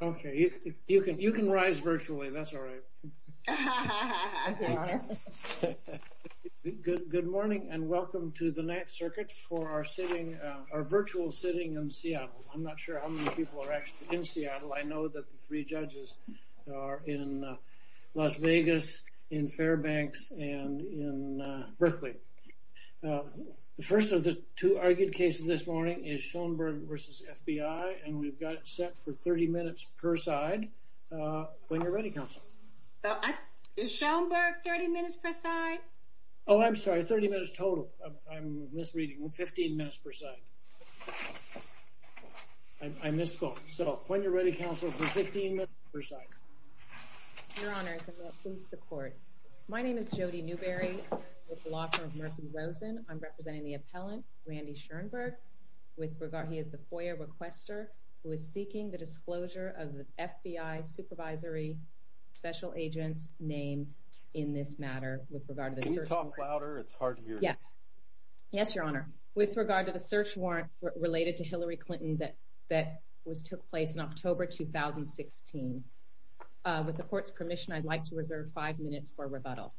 Okay, you can you can rise virtually that's all right Good good morning and welcome to the ninth circuit for our sitting our virtual sitting in Seattle I'm not sure how many people are actually in Seattle. I know that the three judges are in Las Vegas in Fairbanks and in Berkeley The first of the two argued cases this morning is Schoenberg versus FBI and we've got set for 30 minutes per side When you're ready counsel Is Schoenberg 30 minutes per side? Oh, I'm sorry 30 minutes total. I'm misreading with 15 minutes per side I misspoke so when you're ready counsel for 15 minutes per side Your honor please the court. My name is Jody Newberry Rosen I'm representing the appellant Randy Schoenberg with regard He is the FOIA requester who is seeking the disclosure of the FBI supervisory Special agents name in this matter with regard to the search order. It's hard. Yeah Yes, your honor with regard to the search warrant related to Hillary Clinton that that was took place in October 2016 With the court's permission. I'd like to reserve five minutes for rebuttal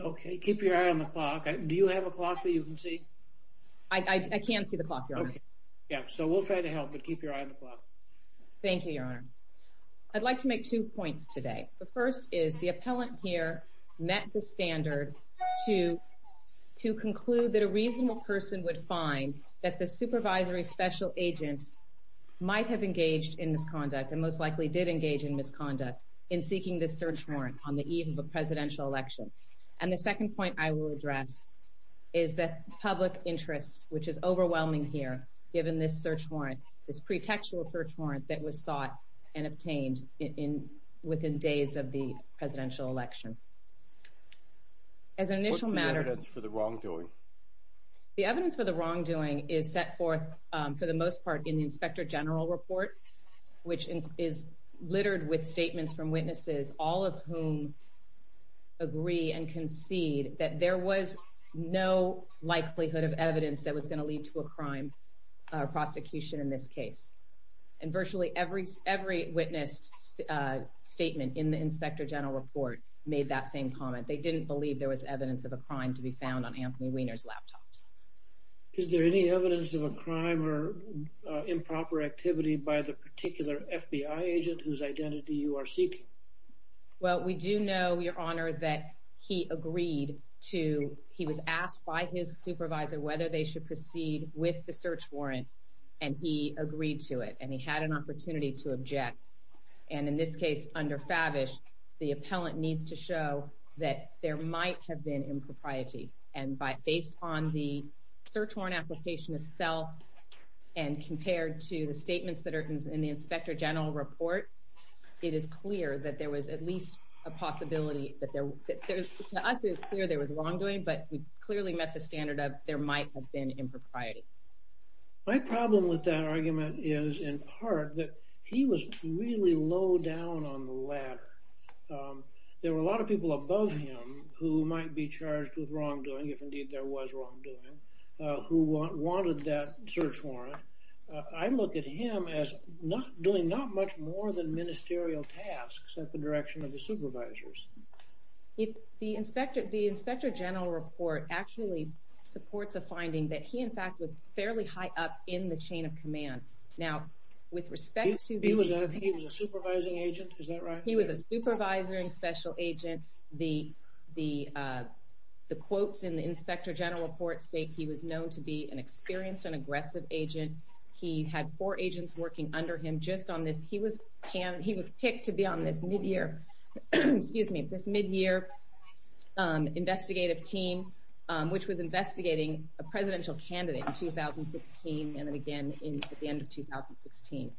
Okay, keep your eye on the clock. Do you have a clock that you can see? I Can't see the clock. Yeah, so we'll try to help but keep your eye on the clock Thank you, your honor. I'd like to make two points today. The first is the appellant here met the standard to To conclude that a reasonable person would find that the supervisory special agent Might have engaged in misconduct and most likely did engage in misconduct in seeking this search warrant on the eve of a presidential election And the second point I will address is that public interest which is overwhelming here given this search warrant this pretextual search warrant that was sought and obtained in within days of the presidential election As an initial matter that's for the wrongdoing The evidence for the wrongdoing is set forth for the most part in the inspector general report Which is littered with statements from witnesses all of whom? Agree and concede that there was no Likelihood of evidence that was going to lead to a crime or prosecution in this case and virtually every every witness Statement in the inspector general report made that same comment They didn't believe there was evidence of a crime to be found on Anthony Weiner's laptops Is there any evidence of a crime or? Improper activity by the particular FBI agent whose identity you are seeking Well, we do know your honor that he agreed to he was asked by his supervisor Whether they should proceed with the search warrant and he agreed to it and he had an opportunity to object and in this case under fabish the appellant needs to show that there might have been impropriety and by based on the search warrant application itself And compared to the statements that are in the inspector general report It is clear that there was at least a possibility that there To us is clear. There was wrongdoing, but we clearly met the standard of there might have been impropriety My problem with that argument is in part that he was really low down on the ladder There were a lot of people above him who might be charged with wrongdoing if indeed there was wrongdoing Who wanted that search warrant? I look at him as not doing not much more than ministerial tasks at the direction of the supervisors if the inspector the inspector general report actually Supports a finding that he in fact was fairly high up in the chain of command now with respect to He was a supervising agent. Is that right? He was a supervisor and special agent the the uh, The quotes in the inspector general report state. He was known to be an experienced and aggressive agent He had four agents working under him just on this. He was can he was picked to be on this mid-year Excuse me this mid-year um investigative team um, which was investigating a presidential candidate in 2016 and then again in at the end of 2016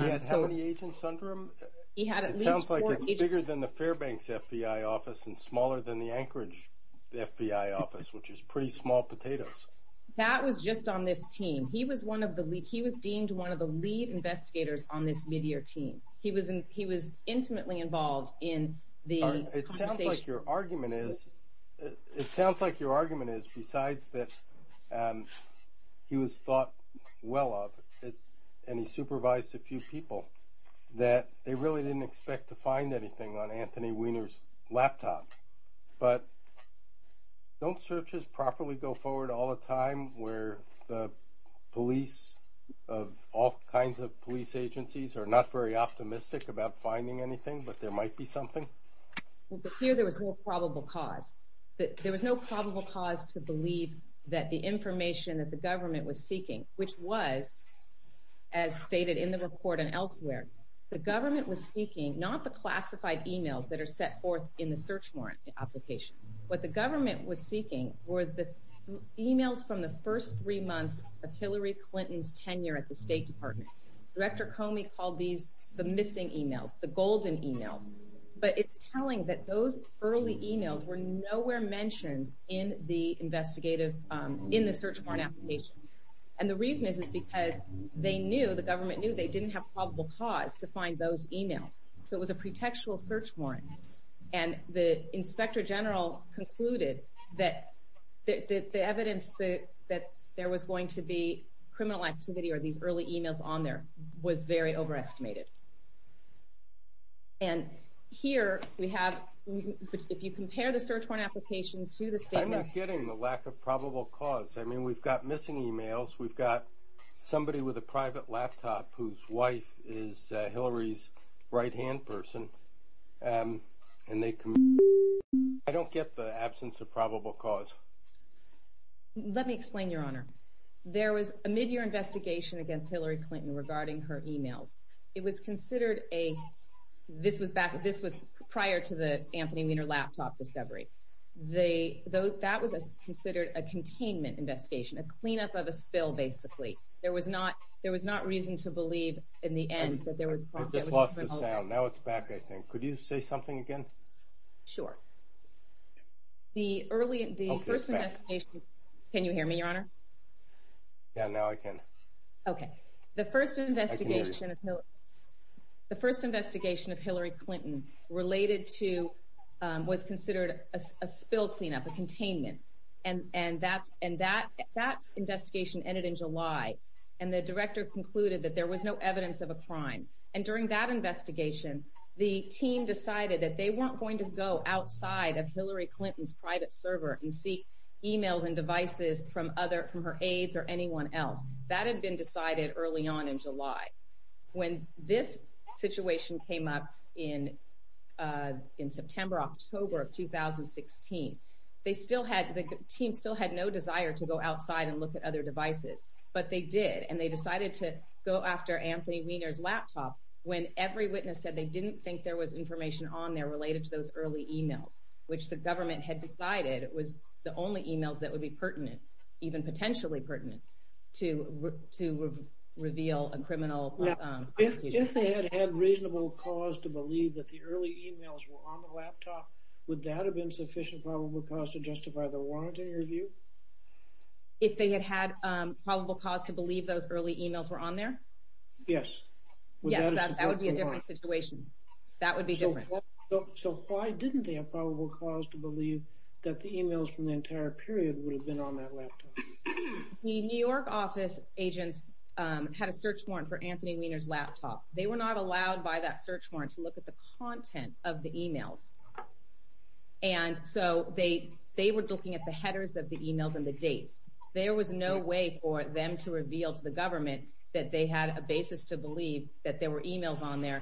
He had how many agents under him? He had it sounds like it's bigger than the fairbanks fbi office and smaller than the anchorage Fbi office, which is pretty small potatoes That was just on this team. He was one of the he was deemed one of the lead investigators on this mid-year team He was in he was intimately involved in the it sounds like your argument is It sounds like your argument is besides that He was thought Well of it and he supervised a few people that they really didn't expect to find anything on anthony weiner's laptop, but Don't search his properly go forward all the time where the police Of all kinds of police agencies are not very optimistic about finding anything, but there might be something Here there was no probable cause that there was no probable cause to believe that the information that the government was seeking which was As stated in the report and elsewhere The government was seeking not the classified emails that are set forth in the search warrant application what the government was seeking were the Emails from the first three months of hillary clinton's tenure at the state department director Comey called these the missing emails the golden emails But it's telling that those early emails were nowhere mentioned in the investigative in the search warrant application And the reason is is because they knew the government knew they didn't have probable cause to find those emails So it was a pretextual search warrant and the inspector general concluded that That the evidence that that there was going to be criminal activity or these early emails on there was very overestimated and here we have If you compare the search warrant application to the statement, i'm not getting the lack of probable cause. I mean we've got missing emails. We've got Somebody with a private laptop whose wife is hillary's right hand person um and they I don't get the absence of probable cause Let me explain your honor There was a mid-year investigation against hillary clinton regarding her emails it was considered a This was back. This was prior to the anthony weiner laptop discovery They those that was a considered a containment investigation a cleanup of a spill Basically, there was not there was not reason to believe in the end that there was Now it's back. I think could you say something again? Sure The early the first investigation. Can you hear me your honor? Yeah, now I can Okay, the first investigation the first investigation of hillary clinton related to um was considered a spill cleanup a containment and and that's and that that investigation ended in july And the director concluded that there was no evidence of a crime and during that investigation The team decided that they weren't going to go outside of hillary clinton's private server and seek Emails and devices from other from her aides or anyone else that had been decided early on in july when this situation came up in in september october of 2016 They still had the team still had no desire to go outside and look at other devices But they did and they decided to go after anthony weiner's laptop When every witness said they didn't think there was information on there related to those early emails Which the government had decided it was the only emails that would be pertinent even potentially pertinent to to Reveal a criminal. Yeah, if they had had reasonable cause to believe that the early emails were on the laptop Would that have been sufficient probable cause to justify the warrant in your view? If they had had um probable cause to believe those early emails were on there Yes Yeah, that would be a different situation That would be different So why didn't they have probable cause to believe that the emails from the entire period would have been on that laptop? The new york office agents, um had a search warrant for anthony weiner's laptop They were not allowed by that search warrant to look at the content of the emails And so they they were looking at the headers of the emails and the dates There was no way for them to reveal to the government that they had a basis to believe that there were emails on there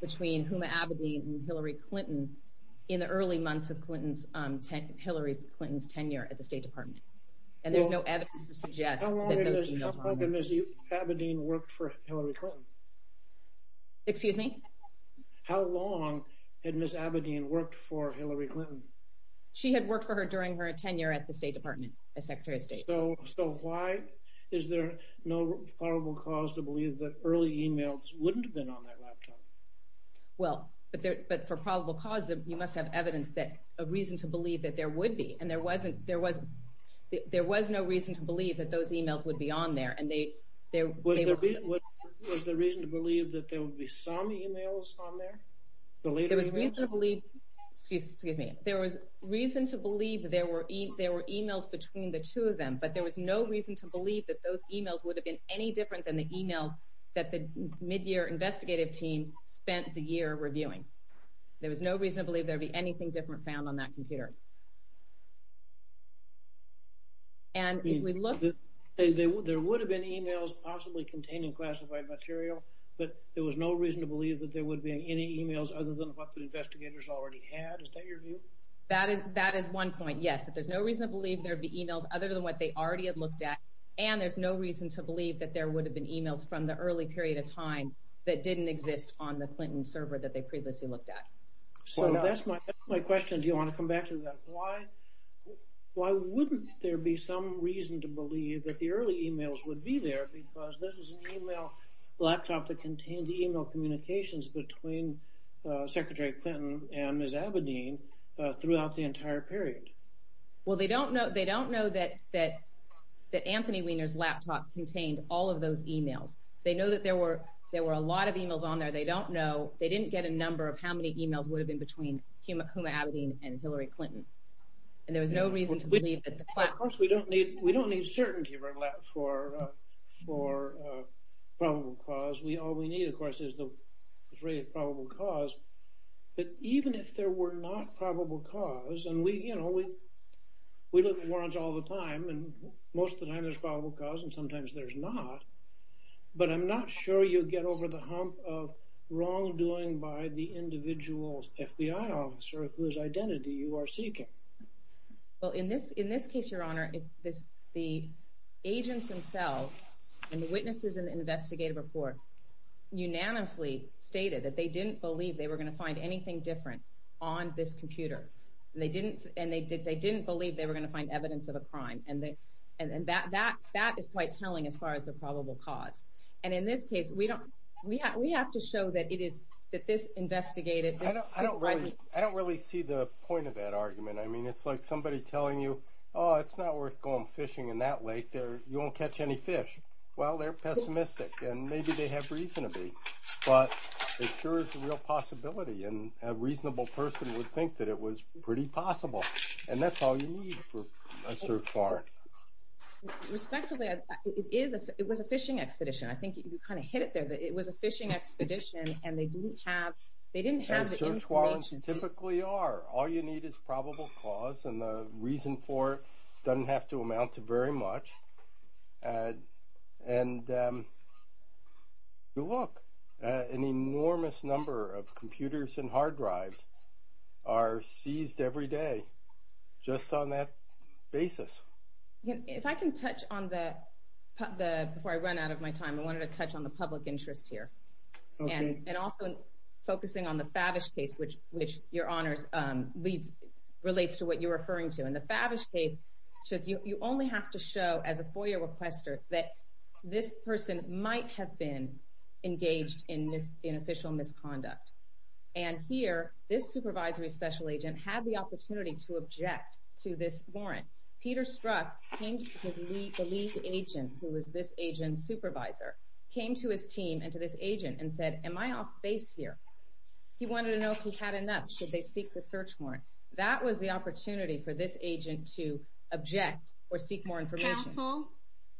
between huma abedin and hillary clinton In the early months of clinton's um, ten hillary's clinton's tenure at the state department And there's no evidence to suggest Abedin worked for hillary clinton Excuse me How long had miss abedin worked for hillary clinton? She had worked for her during her tenure at the state department as secretary of state So why is there no probable cause to believe that early emails wouldn't have been on that laptop well, but there but for probable cause that you must have evidence that a reason to believe that there would be and there wasn't there was There was no reason to believe that those emails would be on there and they there was Was the reason to believe that there would be some emails on there? But there was no reason to believe that those emails would have been any different than the emails that the mid-year investigative team Spent the year reviewing There was no reason to believe there'd be anything different found on that computer And if we look They would there would have been emails possibly containing classified material But there was no reason to believe that there would be any emails other than what the investigators already had. Is that your view? That is that is one point Yes, but there's no reason to believe there'd be emails other than what they already had looked at And there's no reason to believe that there would have been emails from the early period of time That didn't exist on the clinton server that they previously looked at So that's my that's my question. Do you want to come back to that? Why? Why wouldn't there be some reason to believe that the early emails would be there because this is an email? laptop that contained the email communications between secretary clinton and miss abedin Throughout the entire period well, they don't know they don't know that that That anthony wiener's laptop contained all of those emails. They know that there were there were a lot of emails on there They don't know they didn't get a number of how many emails would have been between huma abedin and hillary clinton And there was no reason to believe that of course we don't need we don't need certainty for that for for Probable cause we all we need of course is the rate of probable cause that even if there were not probable cause and we you know, we We look at warrants all the time and most of the time there's probable cause and sometimes there's not But i'm not sure you get over the hump of wrongdoing by the individual's fbi officer whose identity you are seeking well in this in this case your honor if this the agents themselves And the witnesses in the investigative report Unanimously stated that they didn't believe they were going to find anything different on this computer and they didn't and they did they didn't believe they were going to find evidence of a crime and they And that that that is quite telling as far as the probable cause and in this case We don't we have we have to show that it is that this investigative I don't really I don't really see the point of that argument. I mean, it's like somebody telling you Oh, it's not worth going fishing in that lake there. You won't catch any fish Well, they're pessimistic and maybe they have reason to be But it sure is a real possibility and a reasonable person would think that it was pretty possible And that's all you need for a search warrant Respectively it is it was a fishing expedition. I think you kind of hit it there that it was a fishing expedition And they didn't have they didn't have search warrants You typically are all you need is probable cause and the reason for it doesn't have to amount to very much and and um You look an enormous number of computers and hard drives Are seized every day? just on that basis if I can touch on the The before I run out of my time I wanted to touch on the public interest here and and also Focusing on the fabish case which which your honors, um leads relates to what you're referring to in the fabish case So you only have to show as a four-year requester that this person might have been engaged in this in official misconduct And here this supervisory special agent had the opportunity to object to this warrant peter struck Came to his lead the lead agent who was this agent supervisor came to his team and to this agent and said am I off base here? He wanted to know if he had enough should they seek the search warrant. That was the opportunity for this agent to object or seek more information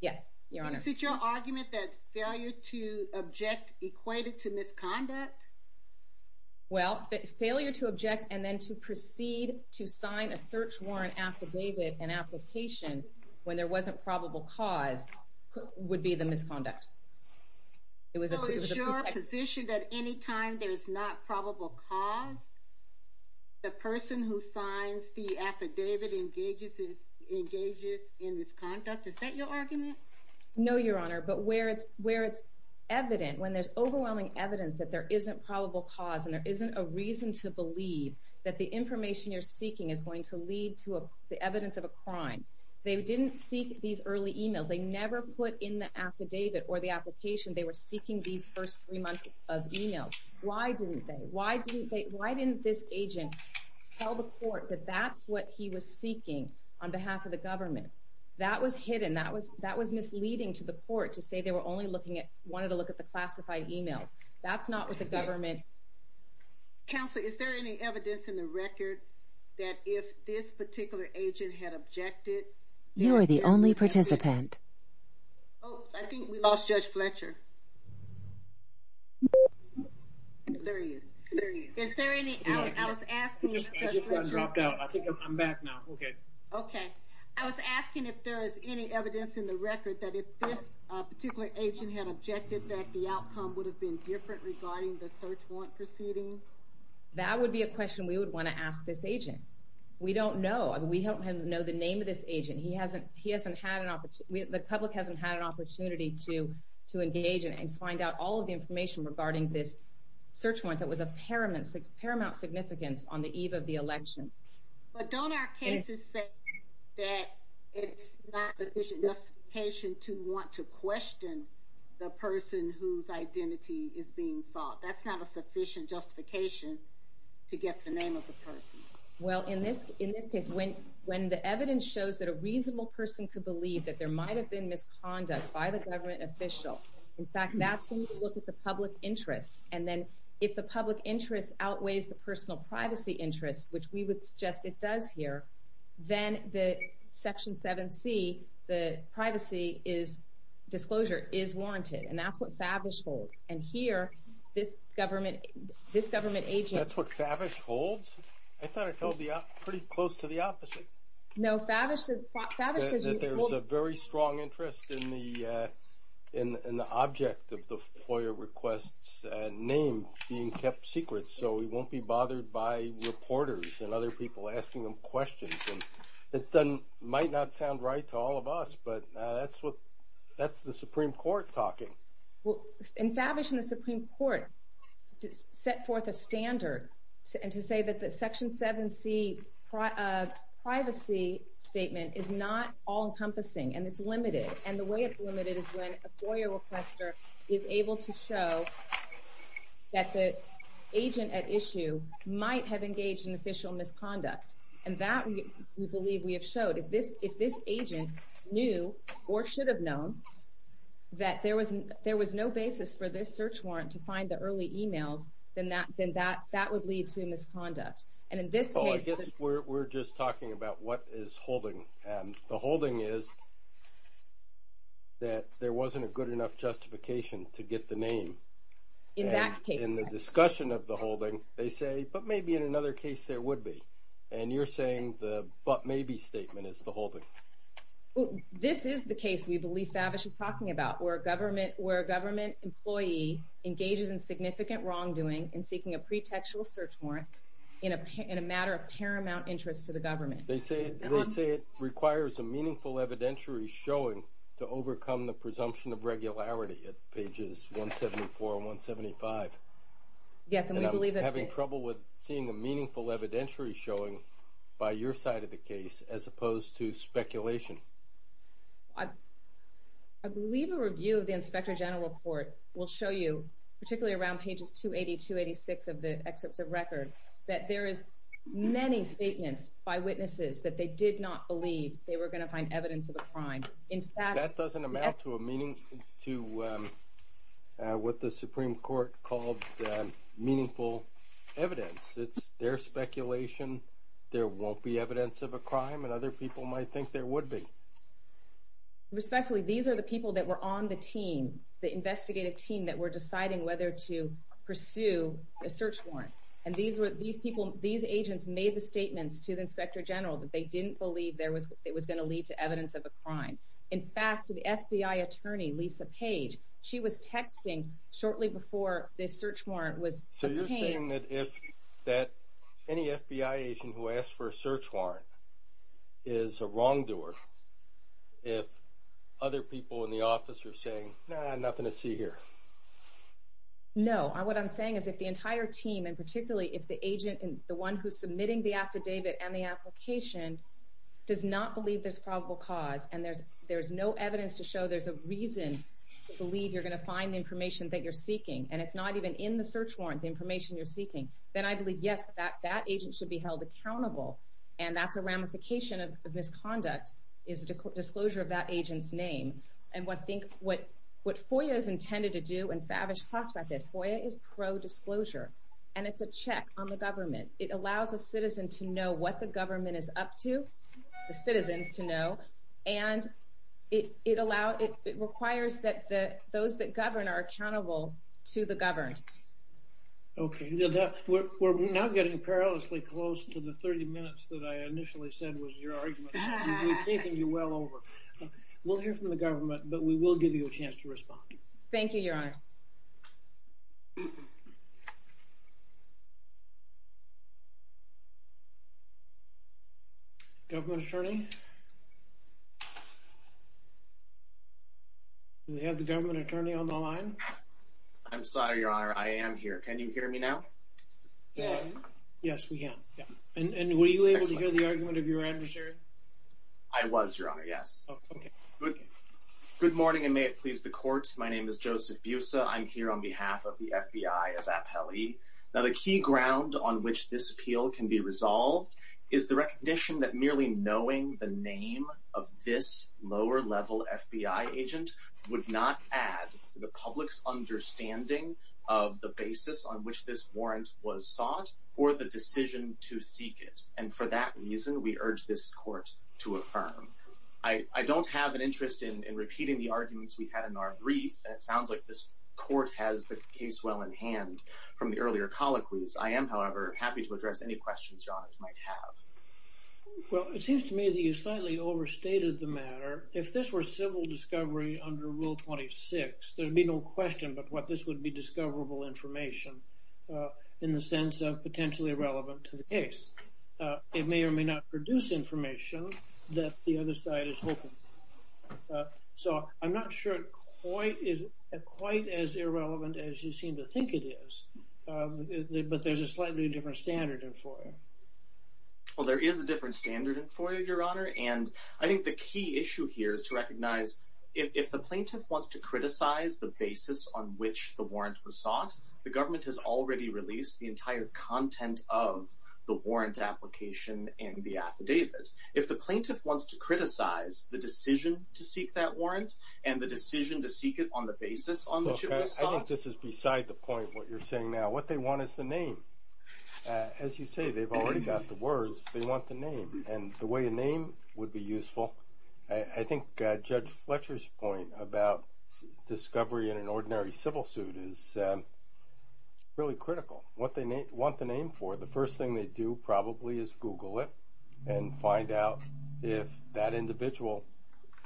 Yes, your honor. Is it your argument that failure to object equated to misconduct? Well failure to object and then to proceed to sign a search warrant affidavit an application When there wasn't probable cause Would be the misconduct It was a sure position that anytime there's not probable cause The person who signs the affidavit engages is engages in misconduct, is that your argument? No, your honor, but where it's where it's evident when there's overwhelming evidence that there isn't probable cause and there isn't a reason to believe That the information you're seeking is going to lead to a the evidence of a crime They didn't seek these early emails. They never put in the affidavit or the application They were seeking these first three months of emails. Why didn't they why didn't they why didn't this agent? Tell the court that that's what he was seeking on behalf of the government That was hidden that was that was misleading to the court to say they were only looking at wanted to look at the classified emails That's not what the government Counselor is there any evidence in the record? That if this particular agent had objected you are the only participant Oh, I think we lost judge fletcher There he is, is there any I was asking I'm back now. Okay. Okay. I was asking if there is any evidence in the record that if this Particular agent had objected that the outcome would have been different regarding the search warrant proceedings That would be a question. We would want to ask this agent We don't know and we don't know the name of this agent he hasn't he hasn't had an opportunity the public hasn't had an opportunity to To engage and find out all of the information regarding this Search warrant that was a paramount paramount significance on the eve of the election but don't our cases say That it's not sufficient justification to want to question The person whose identity is being sought that's not a sufficient justification To get the name of the person well in this in this case when when the evidence shows that a reasonable person could believe that There might have been misconduct by the government official In fact, that's when you look at the public interest and then if the public interest outweighs the personal privacy interest Which we would suggest it does here then the section 7c the privacy is Disclosure is warranted and that's what fabish holds and here this government This government agent, that's what fabish holds. I thought it held the pretty close to the opposite no, fabish there's a very strong interest in the In in the object of the foyer requests and name being kept secret So we won't be bothered by reporters and other people asking them questions And it doesn't might not sound right to all of us. But that's what that's the supreme court talking Well in fabish in the supreme court set forth a standard and to say that the section 7c Privacy statement is not all encompassing and it's limited and the way it's limited is when a foyer requester is able to show that the agent at issue Might have engaged in official misconduct and that we believe we have showed if this if this agent knew or should have known That there was there was no basis for this search warrant to find the early emails Then that then that that would lead to misconduct and in this case, I guess we're just talking about what is holding and the holding is That there wasn't a good enough justification to get the name In that case in the discussion of the holding they say but maybe in another case there would be And you're saying the but maybe statement is the holding Well, this is the case we believe fabish is talking about where a government where a government employee Engages in significant wrongdoing and seeking a pretextual search warrant in a in a matter of paramount interest to the government They say they say it requires a meaningful evidentiary showing to overcome the presumption of regularity at pages 174 and 175 Yes, and we believe that having trouble with seeing a meaningful evidentiary showing By your side of the case as opposed to speculation I I believe a review of the inspector general report will show you particularly around pages 280 286 of the excerpts of record that there is Many statements by witnesses that they did not believe they were going to find evidence of a crime in fact that doesn't amount to a meaning to What the supreme court called meaningful Evidence, it's their speculation There won't be evidence of a crime and other people might think there would be Respectfully these are the people that were on the team the investigative team that were deciding whether to pursue a search warrant And these were these people these agents made the statements to the inspector general that they didn't believe there was it was going to lead To evidence of a crime. In fact, the fbi attorney lisa page. She was texting shortly before this search warrant was so you're saying that if That any fbi agent who asked for a search warrant is a wrongdoer if Other people in the office are saying nothing to see here No, what i'm saying is if the entire team and particularly if the agent and the one who's submitting the affidavit and the application Does not believe there's probable cause and there's there's no evidence to show there's a reason To believe you're going to find the information that you're seeking and it's not even in the search warrant the information you're seeking Then I believe yes that that agent should be held accountable And that's a ramification of the misconduct is the disclosure of that agent's name And what think what what foia is intended to do and fabish talks about this foia is pro-disclosure And it's a check on the government. It allows a citizen to know what the government is up to the citizens to know and It it allows it requires that the those that govern are accountable to the governed Okay, now that we're now getting perilously close to the 30 minutes that I initially said was your argument We've taken you well over We'll hear from the government, but we will give you a chance to respond. Thank you. Your honor Government attorney Yes We have the government attorney on the line I'm, sorry, your honor. I am here. Can you hear me now? Yes. Yes, we can. Yeah, and were you able to hear the argument of your adversary? I was your honor. Yes. Okay Good morning, and may it please the court. My name is joseph busa I'm here on behalf of the fbi as appellee now the key ground on which this appeal can be resolved Is the recognition that merely knowing the name of this lower level fbi agent would not add the public's understanding of the basis on which this warrant was sought Or the decision to seek it and for that reason we urge this court to affirm I I don't have an interest in repeating the arguments we had in our brief And it sounds like this court has the case well in hand from the earlier colloquies I am however happy to address any questions your honors might have Well, it seems to me that you slightly overstated the matter if this were civil discovery under rule 26 There'd be no question, but what this would be discoverable information In the sense of potentially relevant to the case It may or may not produce information that the other side is hoping So i'm not sure quite is quite as irrelevant as you seem to think it is Um, but there's a slightly different standard in foyer Well, there is a different standard in foyer your honor And I think the key issue here is to recognize If the plaintiff wants to criticize the basis on which the warrant was sought the government has already released the entire content of The warrant application and the affidavit if the plaintiff wants to criticize the decision to seek that warrant And the decision to seek it on the basis I think this is beside the point what you're saying now what they want is the name As you say they've already got the words. They want the name and the way a name would be useful I think judge fletcher's point about discovery in an ordinary civil suit is Really critical what they want the name for the first thing they do probably is google it And find out if that individual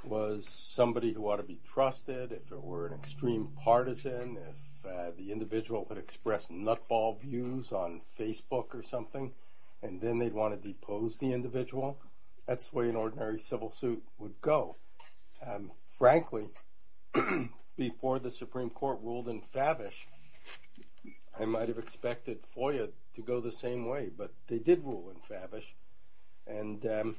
Was somebody who ought to be trusted if it were an extreme partisan If the individual would express nutball views on facebook or something And then they'd want to depose the individual that's the way an ordinary civil suit would go um, frankly Before the supreme court ruled in fabish I might have expected foyer to go the same way, but they did rule in fabish and um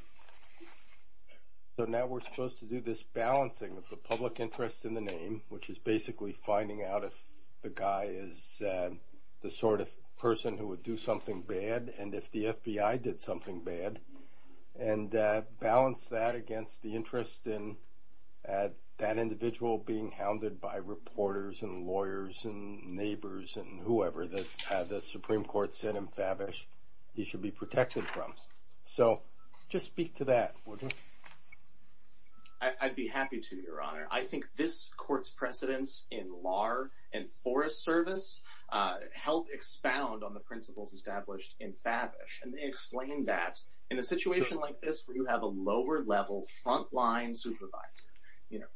So now we're supposed to do this balancing of the public interest in the name, which is basically finding out if the guy is The sort of person who would do something bad and if the fbi did something bad and balance that against the interest in at that individual being hounded by reporters and lawyers and Neighbors and whoever that the supreme court sent him fabish. He should be protected from so just speak to that order I'd be happy to your honor. I think this court's precedence in lar and forest service Helped expound on the principles established in fabish and they explained that in a situation like this where you have a lower level frontline supervisor You know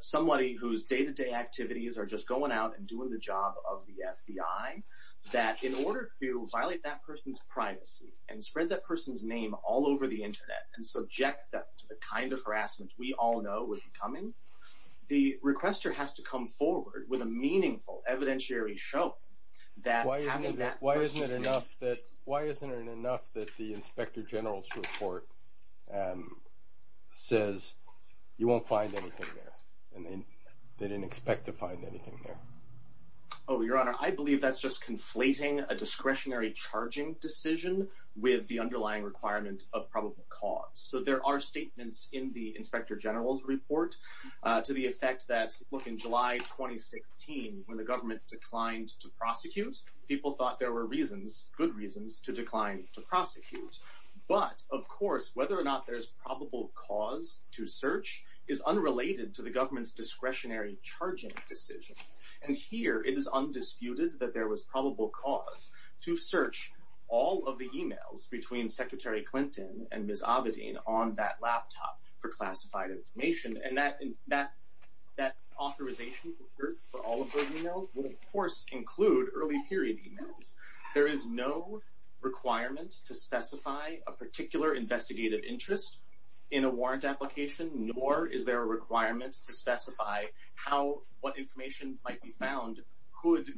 somebody whose day-to-day activities are just going out and doing the job of the fbi That in order to violate that person's privacy and spread that person's name all over the internet and subject them to the kind of harassment We all know would be coming The requester has to come forward with a meaningful evidentiary show That why isn't that why isn't it enough that why isn't it enough that the inspector general's report? um says You won't find anything there and then they didn't expect to find anything there Oh your honor, I believe that's just conflating a discretionary charging decision with the underlying requirement of probable cause So there are statements in the inspector general's report uh to the effect that look in july 2016 when the government declined to prosecute people thought there were reasons good reasons to decline to prosecute But of course whether or not there's probable cause to search is unrelated to the government's discretionary Charging decisions and here it is undisputed that there was probable cause to search all of the emails between secretary clinton and ms avidin on that laptop for classified information and that that That authorization for all of those emails will of course include early period emails. There is no Requirement to specify a particular investigative interest In a warrant application nor is there a requirement to specify how what information might be found could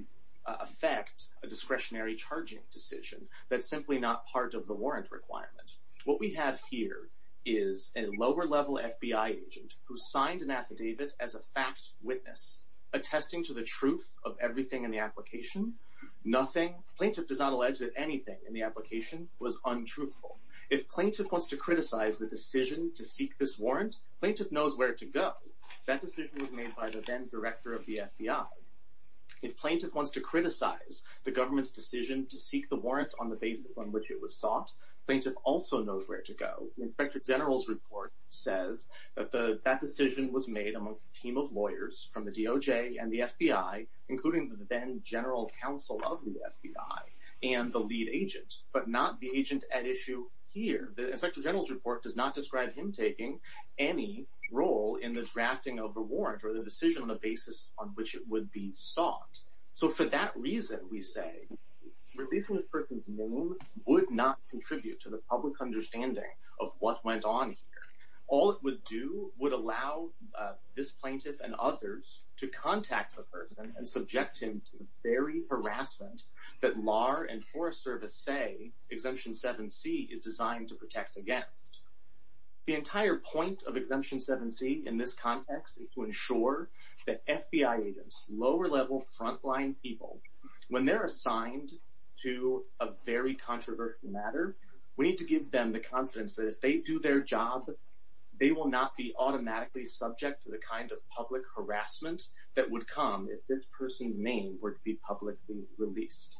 Affect a discretionary charging decision. That's simply not part of the warrant requirement What we have here is a lower level fbi agent who signed an affidavit as a fact witness Attesting to the truth of everything in the application Nothing plaintiff does not allege that anything in the application was untruthful If plaintiff wants to criticize the decision to seek this warrant plaintiff knows where to go That decision was made by the then director of the fbi If plaintiff wants to criticize the government's decision to seek the warrant on the basis on which it was sought plaintiff Also knows where to go inspector general's report says That the that decision was made among a team of lawyers from the doj and the fbi Including the then general counsel of the fbi and the lead agent but not the agent at issue Here the inspector general's report does not describe him taking Any role in the drafting of a warrant or the decision on the basis on which it would be sought so for that reason we say Releasing a person's name would not contribute to the public understanding of what went on here. All it would do would allow This plaintiff and others to contact the person and subject him to the very harassment That lar and forest service say exemption 7c is designed to protect against The entire point of exemption 7c in this context is to ensure That fbi agents lower level frontline people when they're assigned To a very controversial matter. We need to give them the confidence that if they do their job They will not be automatically subject to the kind of public harassment That would come if this person's name were to be publicly released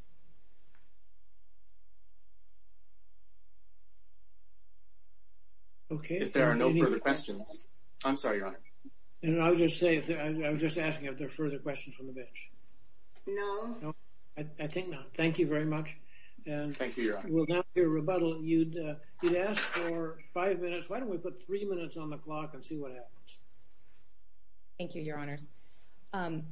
Okay, if there are no further questions I'm, sorry, your honor and I'll just say I was just asking if there are further questions from the bench No I I think not. Thank you very much And thank you. We'll now be a rebuttal you'd uh, you'd ask for five minutes Why don't we put three minutes on the clock and see what happens? Thank you, your honors um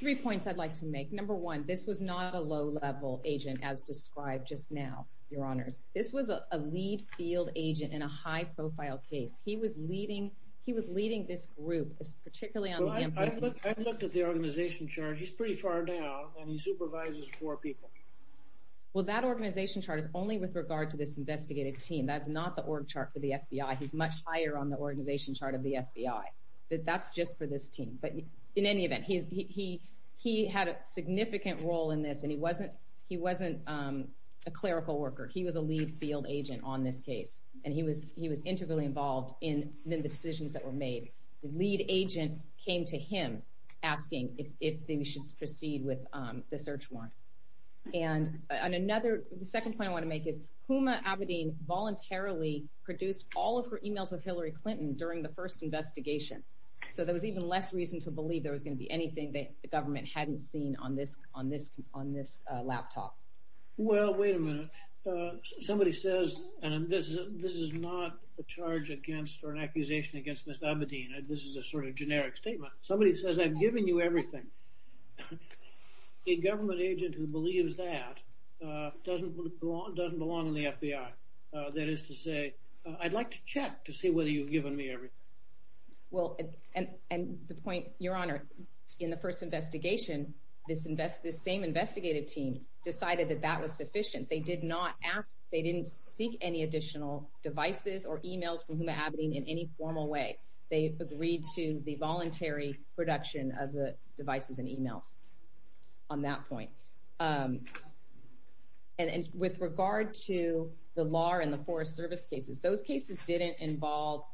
Three points i'd like to make number one. This was not a low level agent as described just now your honors This was a lead field agent in a high profile case. He was leading. He was leading this group Particularly on I've looked at the organization chart. He's pretty far down and he supervises four people Well that organization chart is only with regard to this investigative team. That's not the org chart for the fbi He's much higher on the organization chart of the fbi That's just for this team. But in any event, he he he had a significant role in this and he wasn't he wasn't um A clerical worker he was a lead field agent on this case And he was he was integrally involved in then the decisions that were made the lead agent came to him Asking if if they should proceed with um the search warrant And on another the second point I want to make is huma abedin voluntarily Produced all of her emails with hillary clinton during the first investigation So there was even less reason to believe there was going to be anything that the government hadn't seen on this on this on this laptop Well, wait a minute Somebody says and this this is not a charge against or an accusation against mr Abedin, this is a sort of generic statement. Somebody says i've given you everything A government agent who believes that Doesn't belong doesn't belong in the fbi. Uh, that is to say i'd like to check to see whether you've given me everything Well, and and the point your honor in the first investigation This invest this same investigative team decided that that was sufficient They did not ask they didn't seek any additional devices or emails from huma abedin in any formal way They agreed to the voluntary production of the devices and emails on that point And and with regard to the law and the forest service cases those cases didn't involve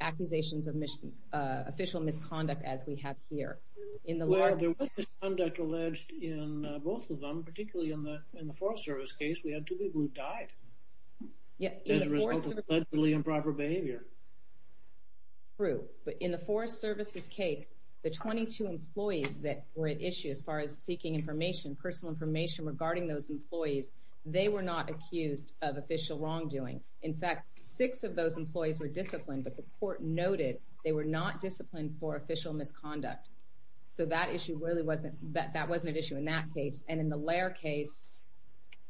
Accusations of mission, uh official misconduct as we have here in the Conduct alleged in both of them particularly in the in the forest service case. We had two people who died Yeah, as a result of allegedly improper behavior True, but in the forest services case the 22 employees that were at issue as far as seeking information personal information regarding those employees They were not accused of official wrongdoing In fact, six of those employees were disciplined, but the court noted they were not disciplined for official misconduct So that issue really wasn't that that wasn't an issue in that case and in the lair case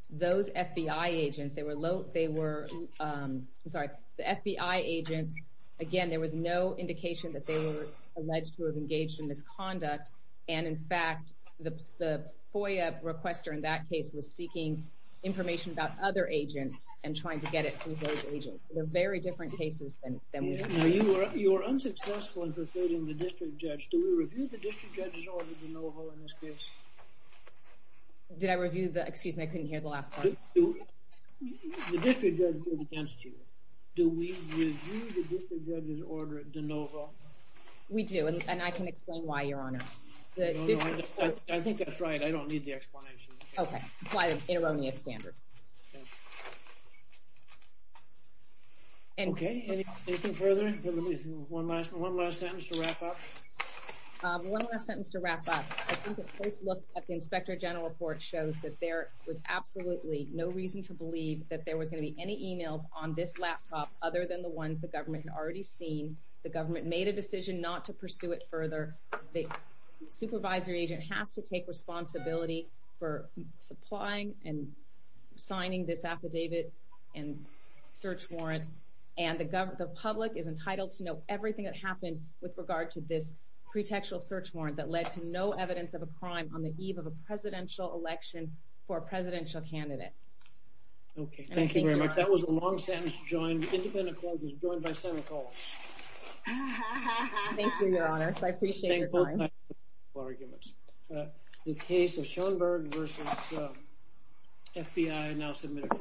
Those fbi agents they were low. They were um, sorry the fbi agents again There was no indication that they were alleged to have engaged in misconduct And in fact the the foia requester in that case was seeking Information about other agents and trying to get it from those agents. They're very different cases Now you were you were unsuccessful in persuading the district judge. Do we review the district judge's order de novo in this case? Did I review the excuse me, I couldn't hear the last part The district judge did against you do we review the district judge's order de novo We do and I can explain why your honor I think that's right. I don't need the explanation. Okay apply the erroneous standard And okay anything further one last one last sentence to wrap up Um one last sentence to wrap up I think the first look at the inspector general report shows that there Was absolutely no reason to believe that there was going to be any emails on this laptop Other than the ones the government had already seen the government made a decision not to pursue it further the supervisory agent has to take responsibility for supplying and signing this affidavit and search warrant And the government the public is entitled to know everything that happened with regard to this Pretextual search warrant that led to no evidence of a crime on the eve of a presidential election for a presidential candidate Okay, thank you very much that was a long sentence joined independent court was joined by senator Thank you, your honor, so I appreciate your time arguments the case of schoenberg versus FBI now submitted